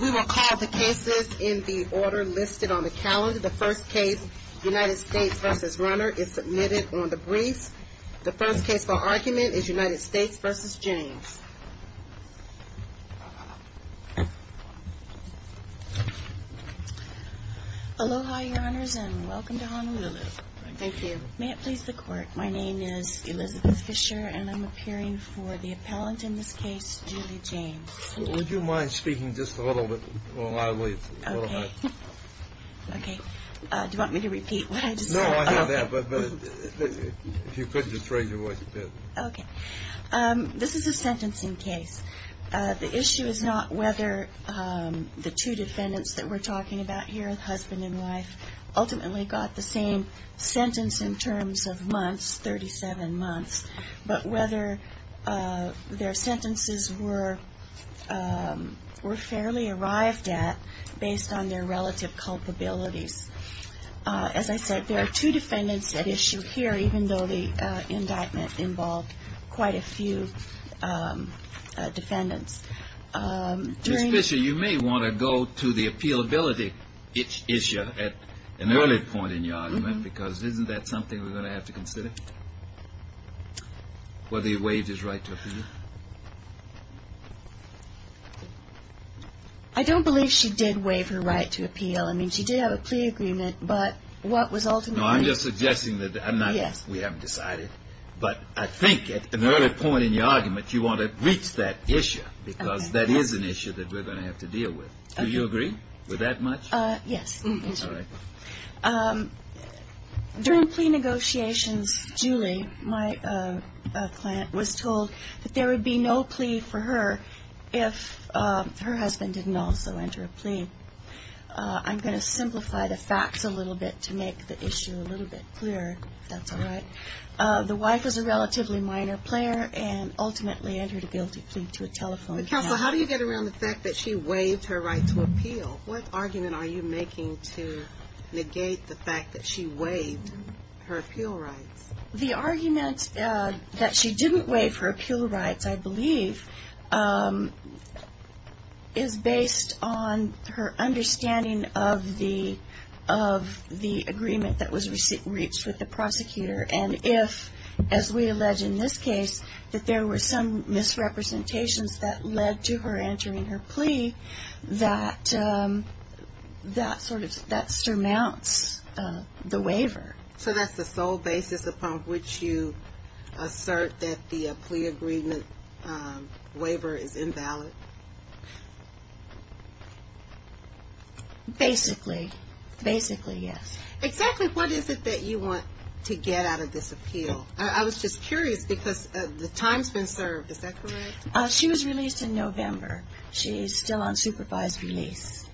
We will call the cases in the order listed on the calendar. The first case, UNITED STATES v. RUNNER, is submitted on the briefs. The first case for argument is UNITED STATES v. JAMES. Aloha, your honors, and welcome to Honolulu. Thank you. May it please the court, my name is Elizabeth Fisher and I'm appearing for the appellant in this case, Julie James. Would you mind speaking just a little bit while I leave? Okay, do you want me to repeat what I just said? No, I hear that, but if you could just raise your voice a bit. Okay, this is a sentencing case. The issue is not whether the two defendants that we're talking about here, husband and wife, ultimately got the same sentence in terms of months, 37 months, but whether their sentences were fairly arrived at based on their relative culpabilities. As I said, there are two defendants at issue here, even though the indictment involved quite a few defendants. Ms. Fisher, you may want to go to the appealability issue at an early point in your argument, because isn't that something we're going to have to consider? Whether he waived his right to appeal? I don't believe she did waive her right to appeal. I mean, she did have a plea agreement, but what was ultimately... No, I'm just suggesting that we haven't decided, but I think at an early point in your argument, you want to reach that issue, because that is an issue that we're going to have to deal with. Do you agree with that much? Yes. During plea negotiations, Julie, my client, was told that there would be no plea for her if her husband didn't also enter a plea. I'm going to simplify the facts a little bit to make the issue a little bit clearer, if that's all right. The wife is a relatively minor player and ultimately entered a guilty plea to a telephone. Counsel, how do you get around the fact that she waived her right to appeal? What argument are you making to negate the fact that she waived her appeal rights? The argument that she didn't waive her appeal rights, I believe, is based on her understanding of the agreement that was reached with the prosecutor. And if, as we allege in this case, that there were some misrepresentations that led to her entering her plea, that surmounts the waiver. So that's the sole basis upon which you assert that the plea agreement waiver is invalid? Basically. Basically, yes. Exactly what is it that you want to get out of this appeal? I was just curious, because the time's been served, is that correct? She was released in November. She's still on supervised release.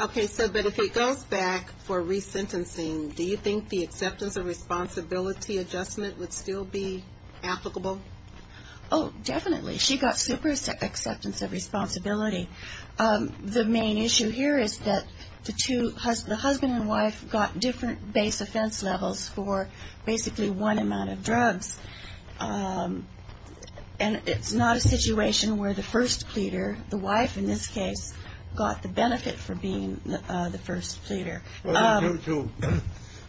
Okay, but if it goes back for resentencing, do you think the acceptance of responsibility adjustment would still be applicable? Oh, definitely. She got super acceptance of responsibility. The main issue here is that the husband and wife got different base offense levels for basically one amount of drugs. And it's not a situation where the first pleader, the wife in this case, got the benefit for being the first pleader.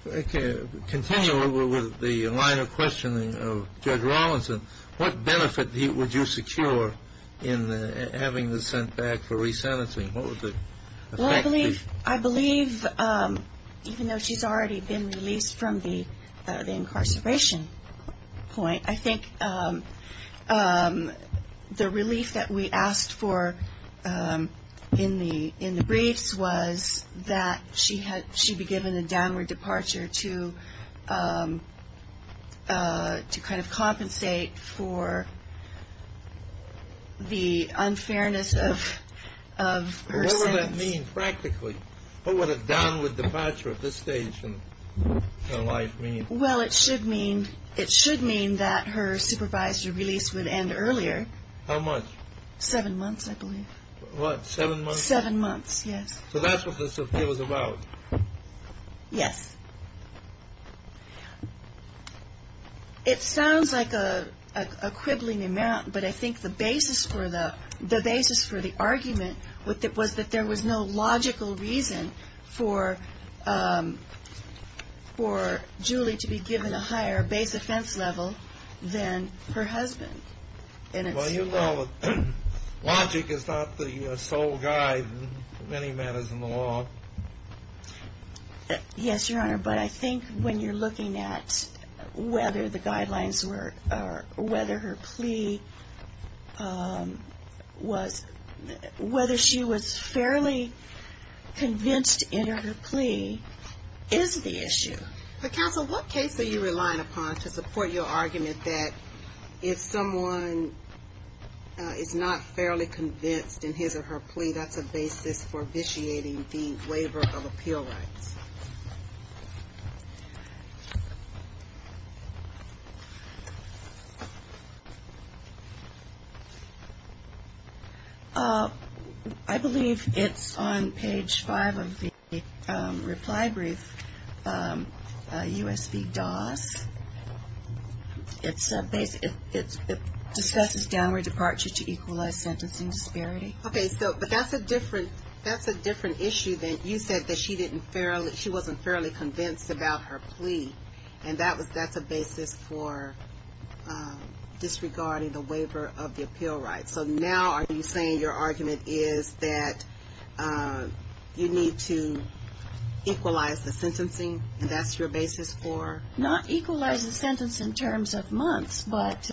Okay, continuing with the line of questioning of Judge Rawlinson, what benefit would you secure in having the sent back for resentencing? What would the effect be? Well, I believe, even though she's already been released from the incarceration point, I think the relief that we asked for in the briefs was that she be given a downward departure to kind of compensate for the unfairness of her sentence. What would that mean practically? What It should mean that her supervisor released with end earlier. How much? Seven months, I believe. What, seven months? Seven months, yes. So that's what this appeal was about? Yes. It sounds like a quibbling amount, but I think the basis for the argument was that there was no base offense level than her husband. Well, you know, logic is not the sole guide in many matters in the law. Yes, Your Honor, but I think when you're looking at whether the guidelines were, or whether her plea was, whether she was fairly convinced in her plea is the issue. But counsel, what case are you looking at to support your argument that if someone is not fairly convinced in his or her plea, that's a basis for It's a basis. It discusses downward departure to equalize sentencing disparity. Okay, so, but that's a different, that's a different issue than you said that she didn't fairly, she wasn't fairly convinced about her plea. And that was, that's a basis for disregarding the waiver of the appeal rights. So now are you saying your argument is that you need to equalize the sentencing, and that's your basis for Not equalize the sentence in terms of months, but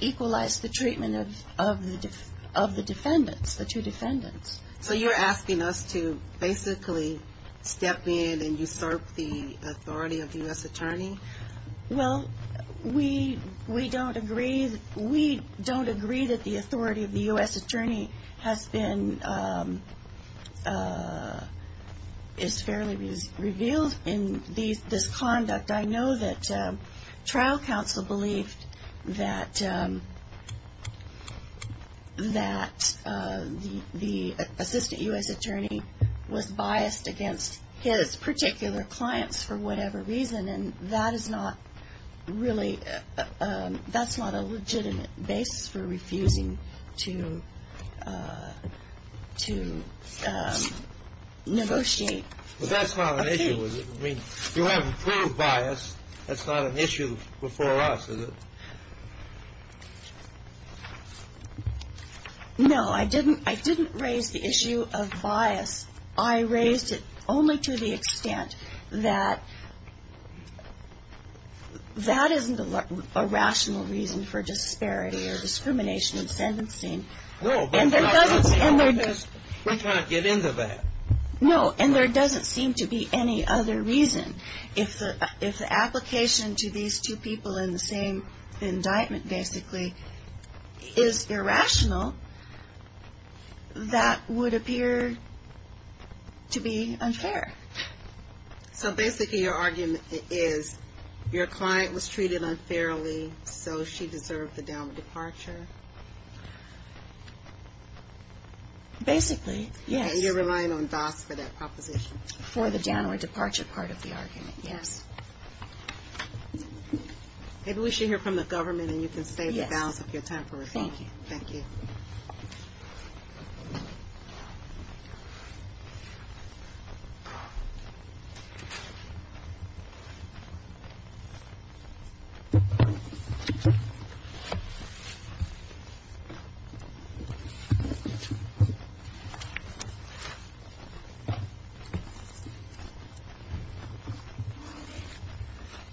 equalize the treatment of the defendants, the two defendants. So you're asking us to basically step in and usurp the authority of the U.S. attorney? Well, we, we don't agree, we don't agree that the authority of the U.S. attorney has been, is fairly revealed in these, this conduct. I know that trial counsel believed that that the, the assistant U.S. attorney was biased against his particular clients for whatever reason, and that is not really, that's not a legitimate basis for refusing to, to negotiate a plea. But that's not an issue, is it? I mean, you haven't proved bias, that's not an issue before us, is it? No, I didn't, I didn't raise the issue of bias. I raised it only to the extent that that isn't a rational reason for disparity or discrimination in sentencing. No, but I don't see how this, we're trying to get into that. No, and there doesn't seem to be any other reason. If the, if the application to these two people in the same indictment, basically, is irrational, that would appear to be unfair. So basically, your argument is your client was treated unfairly, so she deserved the downward departure? Basically, yes. And you're relying on DAS for that proposition? For the downward departure part of the argument, yes. Maybe we should hear from the government, and you can state the balance of your time for review. Thank you. Thank you.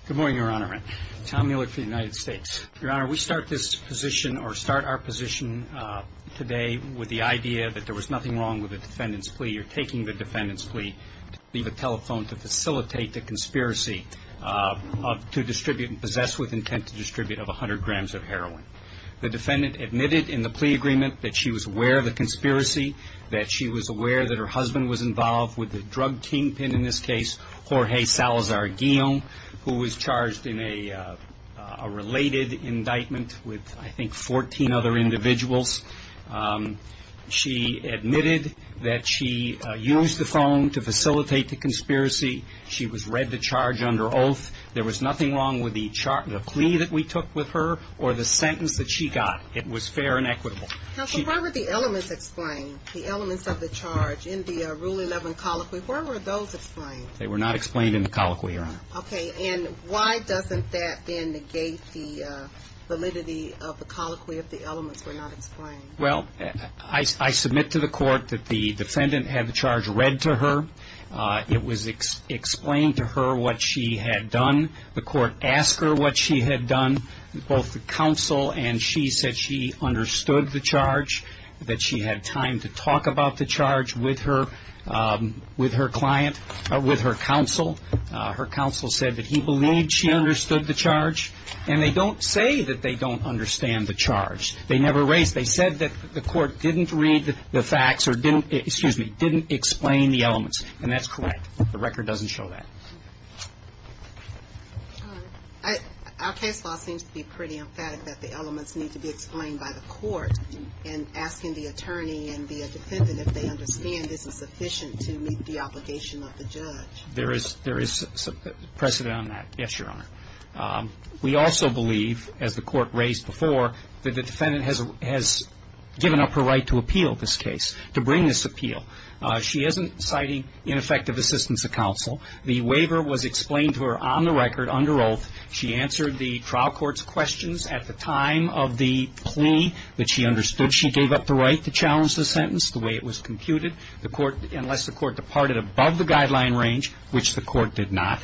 Good morning, Your Honor. Tom Mueller for the United States. Your Honor, we start this position, or start our position today with the idea that there was nothing wrong with the defendant's plea. You're taking the defendant's plea to leave a telephone to facilitate the conspiracy of, to distribute, and possess with intent to distribute, of 100 grams of heroin. The defendant admitted in the plea agreement that she was aware of the conspiracy, that she was aware that her husband was involved with the drug kingpin in this case, Jorge Salazar-Guillen, who was charged in a related indictment with, I think, 14 other individuals. She admitted that she used the phone to facilitate the conspiracy. She was read to charge under oath. There was nothing wrong with the plea that we took with her, or the sentence that she got. It was fair and equitable. Counsel, where were the elements explained? The elements of the charge in the Rule 11 colloquy, where were those explained? They were not explained in the colloquy, Your Honor. Okay. And why doesn't that then negate the validity of the colloquy if the elements were not explained? Well, I submit to the court that the defendant had the charge read to her. It was explained to her what she had done. The court asked her what she had done. Both the counsel and she said she understood the charge, that she had time to talk about the charge with her client, with her counsel. Her counsel said that he believed she understood the charge, and they don't say that they don't understand the charge. They never raised it. They said that the court didn't read the facts or didn't, excuse me, didn't explain the elements. And that's correct. The record doesn't show that. Our case law seems to be pretty emphatic that the elements need to be explained by the court and asking the attorney and the defendant if they understand this is sufficient to meet the obligation of the judge. There is precedent on that. Yes, Your Honor. We also believe, as the court raised before, that the defendant has given up her right to appeal this case, to bring this appeal. She isn't citing ineffective assistance of counsel. The waiver was explained to her on the record under oath. She answered the trial court's questions at the time of the plea that she understood. She gave up the right to challenge the sentence the way it was computed, the court, unless the court departed above the guideline range, which the court did not.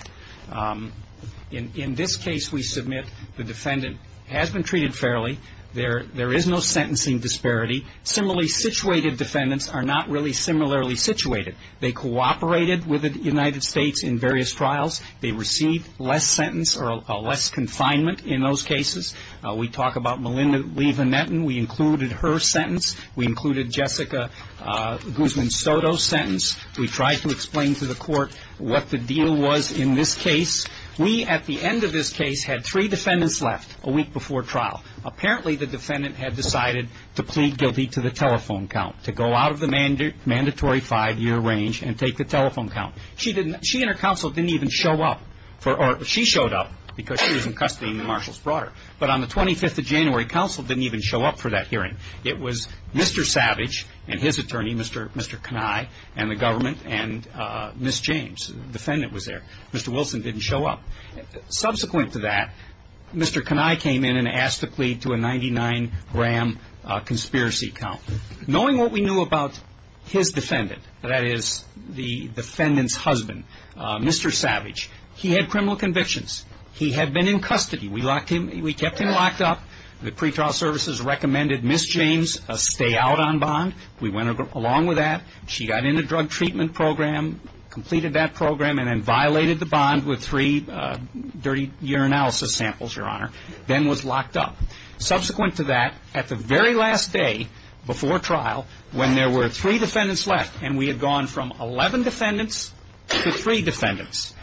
In this case, we submit the defendant has been treated fairly. There is no sentencing disparity. Similarly situated defendants are not really similarly situated. They cooperated with the United States in various trials. They received less sentence or less confinement in those cases. We talk about Melinda Lee Van Etten. We included her sentence. We included Jessica Guzman Soto's sentence. We tried to explain to the court what the deal was in this case. We, at the end of this case, had three defendants left a week before trial. Apparently, the defendant had decided to plead guilty to the telephone count, to go out of the mandatory five-year range and take the telephone count. She and her counsel didn't even show up. She showed up because she was in custody and the marshals brought her. But on the 25th of January, counsel didn't even show up for that hearing. It was Mr. Savage and his attorney, Mr. Kenai, and the government, and Ms. James. The defendant was there. Mr. Wilson didn't show up. Subsequent to that, Mr. Kenai came in and asked to plead to a 99-gram conspiracy count. Knowing what we knew about his defendant, that is, the defendant's husband, Mr. Savage, he had criminal convictions. He had been in custody. We locked him. We kept him locked up. The pretrial services recommended Ms. James stay out on bond. We went along with that. She got in a drug treatment program, completed that program, and then violated the bond with three dirty urinalysis samples, Your Honor, then was locked up. Subsequent to that, at the very last day before trial, when there were three defendants left, and we had gone from 11 defendants to three defendants,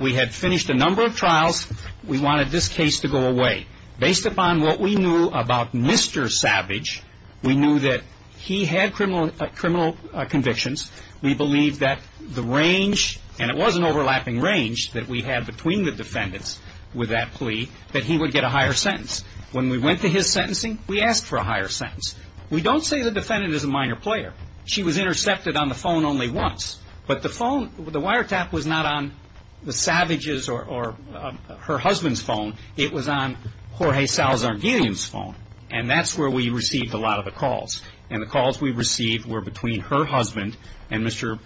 we had finished a number of trials. We wanted this case to go away. Based upon what we knew about Mr. Savage, we knew that he had criminal convictions. We believed that the range, and it was an overlapping range that we had between the defendants with that plea, that he would get a higher sentence. When we went to his sentencing, we asked for a higher sentence. We don't say the defendant is a minor player. She was intercepted on the phone only once. But the phone, the wiretap was not on the Savages' or her husband's phone. It was on Jorge Salazar Gillian's phone. And that's where we received a lot of the calls. And the calls we received were between her husband and Mr.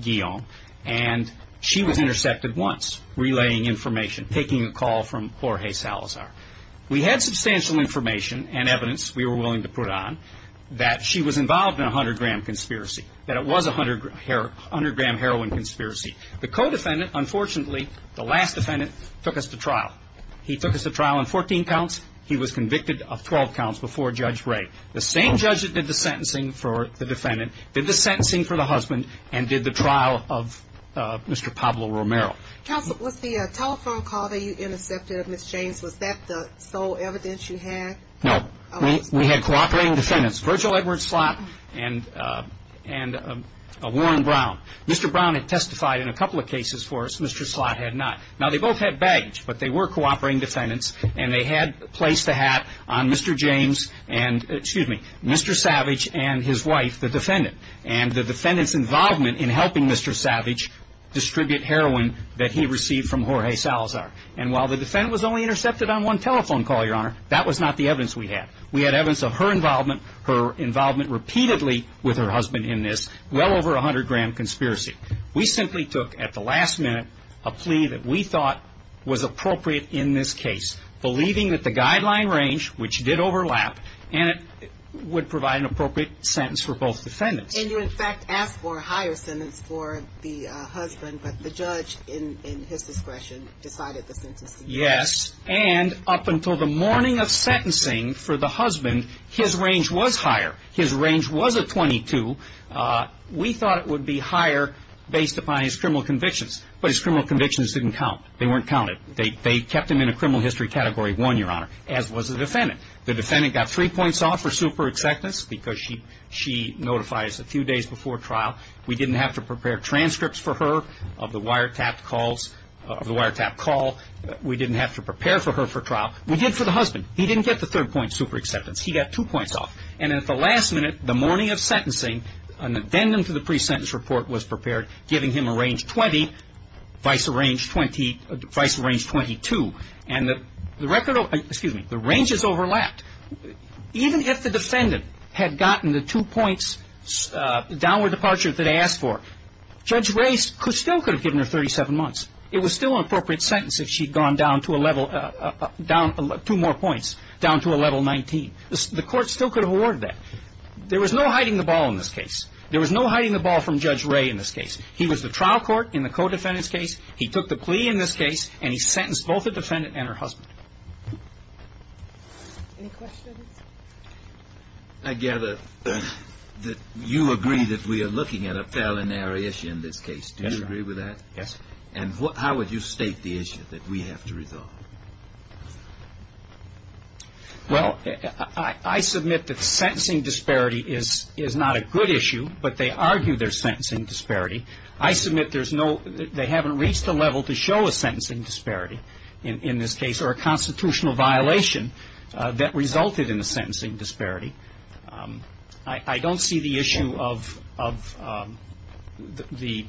Gillian. And she was intercepted once, relaying information, taking a call from Jorge Salazar. We had substantial information and evidence we were willing to put on that she was involved in a 100-gram conspiracy, that it was a 100-gram heroin conspiracy. The co-defendant, unfortunately, the last defendant, took us to trial. He took us to trial on 14 counts. He was convicted of 12 counts before Judge Ray. The same judge that did the sentencing for the defendant did the sentencing for the husband and did the trial of Mr. Pablo Romero. Counsel, was the telephone call that you intercepted of Ms. James, was that the sole evidence you had? No. We had cooperating defendants, Virgil Edward Slott and Warren Brown. Mr. Brown had testified in a couple of cases for us. Mr. Slott had not. Now, they both had baggage, but they were cooperating defendants. And they had placed a hat on Mr. James and, excuse me, Mr. Savage and his wife, the defendant. And the defendant's involvement in helping Mr. Savage distribute heroin that he received from Jorge Salazar. And while the defendant was only intercepted on one telephone call, Your Honor, that was not the evidence we had. We had evidence of her involvement, her involvement repeatedly with her husband in this, well over a 100-gram conspiracy. We simply took, at the last minute, a plea that we thought was appropriate in this case, believing that the guideline range, which did overlap, and it would provide an appropriate sentence for both defendants. And you, in fact, asked for a higher sentence for the husband, but the judge, in his discretion, decided the sentencing. Yes. And up until the morning of sentencing for the husband, his range was higher. His range was a 22. We thought it would be higher based upon his criminal convictions. But his criminal convictions didn't count. They weren't counted. They kept him in a criminal history category one, Your Honor, as was the defendant. The defendant got three points off for super acceptance, because she notifies a few days before trial. We didn't have to prepare transcripts for her of the wiretapped calls, of the wiretapped call. We didn't have to prepare for her for trial. We did for the husband. He didn't get the third point super acceptance. He got two points off. And at the last minute, the morning of sentencing, an addendum to the pre-sentence report was prepared, giving him a range 20, vice a range 20, vice a range 22. And the record, excuse me, the ranges overlapped. Even if the defendant had gotten the two points, downward departure that they asked for, Judge Ray still could have given her 37 months. It was still an appropriate sentence if she'd gone down to a level, down two more points, down to a level 19. The court still could have awarded that. There was no hiding the ball in this case. There was no hiding the ball from Judge Ray in this case. He was the trial court in the co-defendant's case. He took the plea in this case, and he sentenced both the defendant and her husband. Any questions? I gather that you agree that we are looking at a felonary issue in this case. Do you agree with that? Yes. And how would you state the issue that we have to resolve? Well, I submit that sentencing disparity is not a good issue, but they argue there's sentencing disparity. I submit there's no, they haven't reached a level to show a sentencing disparity in this case, or a constitutional violation that resulted in a sentencing disparity. I don't see the issue of the,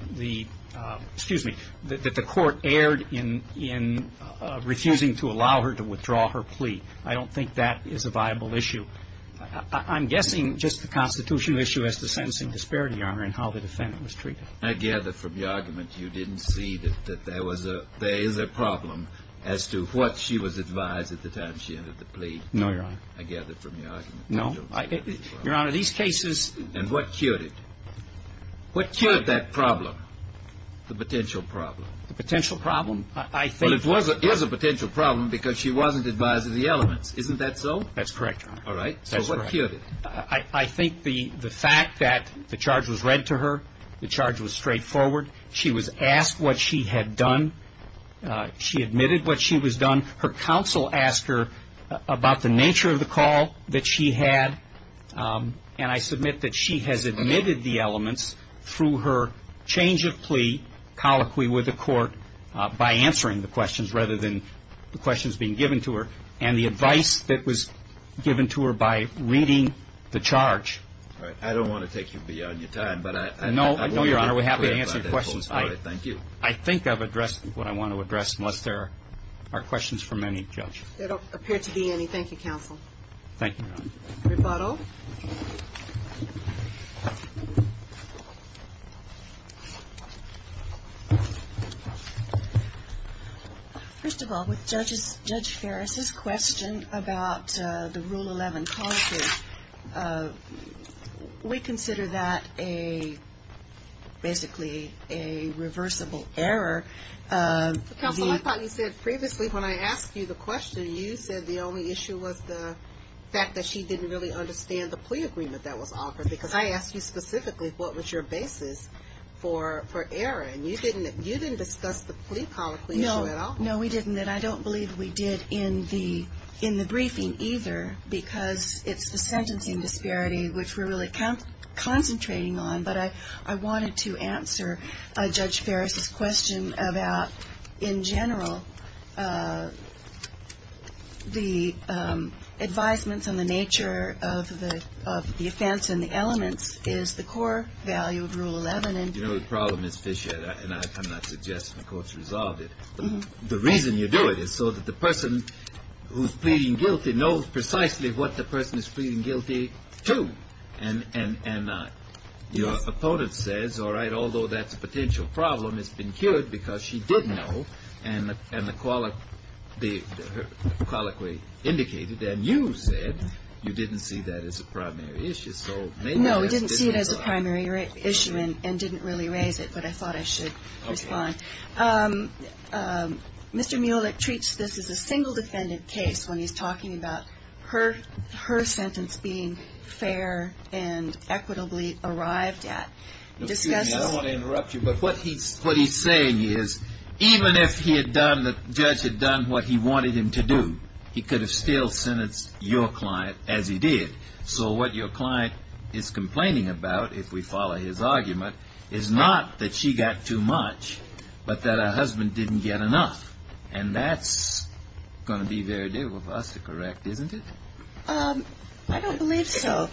excuse me, that the court erred in refusing to allow her to withdraw her plea. I don't think that is a viable issue. I'm guessing just the constitutional issue as to sentencing disparity, Your Honor, and how the defendant was treated. I gather from your argument you didn't see that there was a, there is a problem as to what she was advised at the time she entered the plea. No, Your Honor. I gather from your argument. No. Your Honor, these cases. And what cured it? What cured that problem? The potential problem. The potential problem, I think. But it was, is a potential problem because she wasn't advised of the elements. Isn't that so? That's correct, Your Honor. All right. So what cured it? I think the fact that the charge was read to her, the charge was straightforward. She was asked what she had done. She admitted what she was done. Her counsel asked her about the nature of the call that she had. And I submit that she has admitted the elements through her change of plea, colloquy with the court, by answering the questions rather than the questions being given to her. And the advice that was given to her by reading the charge. All right. I don't want to take you beyond your time. But I know. I know, Your Honor. We're happy to answer your questions. Thank you. I think I've addressed what I want to address unless there are questions from any judge. There don't appear to be any. Thank you, counsel. Thank you, Your Honor. Rebuttal. First of all, with Judge Ferris's question about the Rule 11 colloquy, we consider that a basically a reversible error. Counsel, I thought you said previously when I asked you the question, you said the only issue was the fact that she didn't really understand the plea agreement that was offered. Because I asked you specifically, what was your basis for error? And you didn't discuss the plea colloquy issue at all. No, we didn't. And I don't believe we did in the briefing either. Because it's the sentencing disparity, which we're really concentrating on. But I wanted to answer Judge Ferris's question about, in general, the advisements on the nature of the offense and the elements is the core value of Rule 11. And you know, the problem is, Fishhead, and I cannot suggest the court's resolved it. The reason you do it is so that the person who's pleading guilty knows precisely what the person is pleading guilty to. And your opponent says, all right, although that's a potential problem, it's been cured because she didn't know. And the colloquy indicated that. And you said you didn't see that as a primary issue. So maybe that's why. No, we didn't see it as a primary issue and didn't really raise it. But I thought I should respond. Mr. Mulek treats this as a single defendant case when he's talking about her sentence being fair and equitably arrived at. Excuse me, I don't want to interrupt you. But what he's saying is, even if the judge had done what he wanted him to do, he could have still sentenced your client as he did. So what your client is complaining about, if we follow his argument, is not that she got too much, but that her husband didn't get enough. And that's going to be very difficult for us to correct, isn't it? I don't believe so.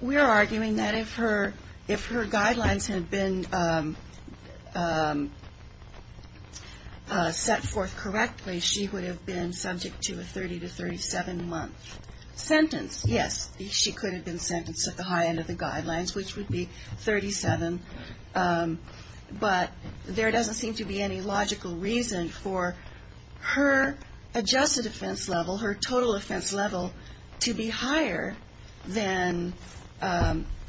We're arguing that if her guidelines had been set forth correctly, she would have been subject to a 30 to 37 month sentence. Yes, she could have been sentenced at the high end of the guidelines, which would be 37. But there doesn't seem to be any logical reason for her adjusted offense level, her total offense level, to be higher than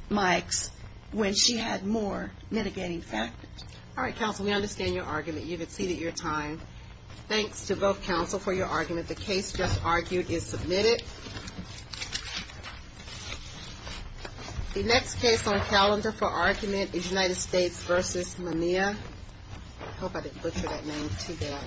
Mike's when she had more mitigating factors. All right, counsel, we understand your argument. You've exceeded your time. Thanks to both counsel for your argument. The case just argued is submitted. The next case on calendar for argument is United States v. Mania. I hope I didn't butcher that name too bad.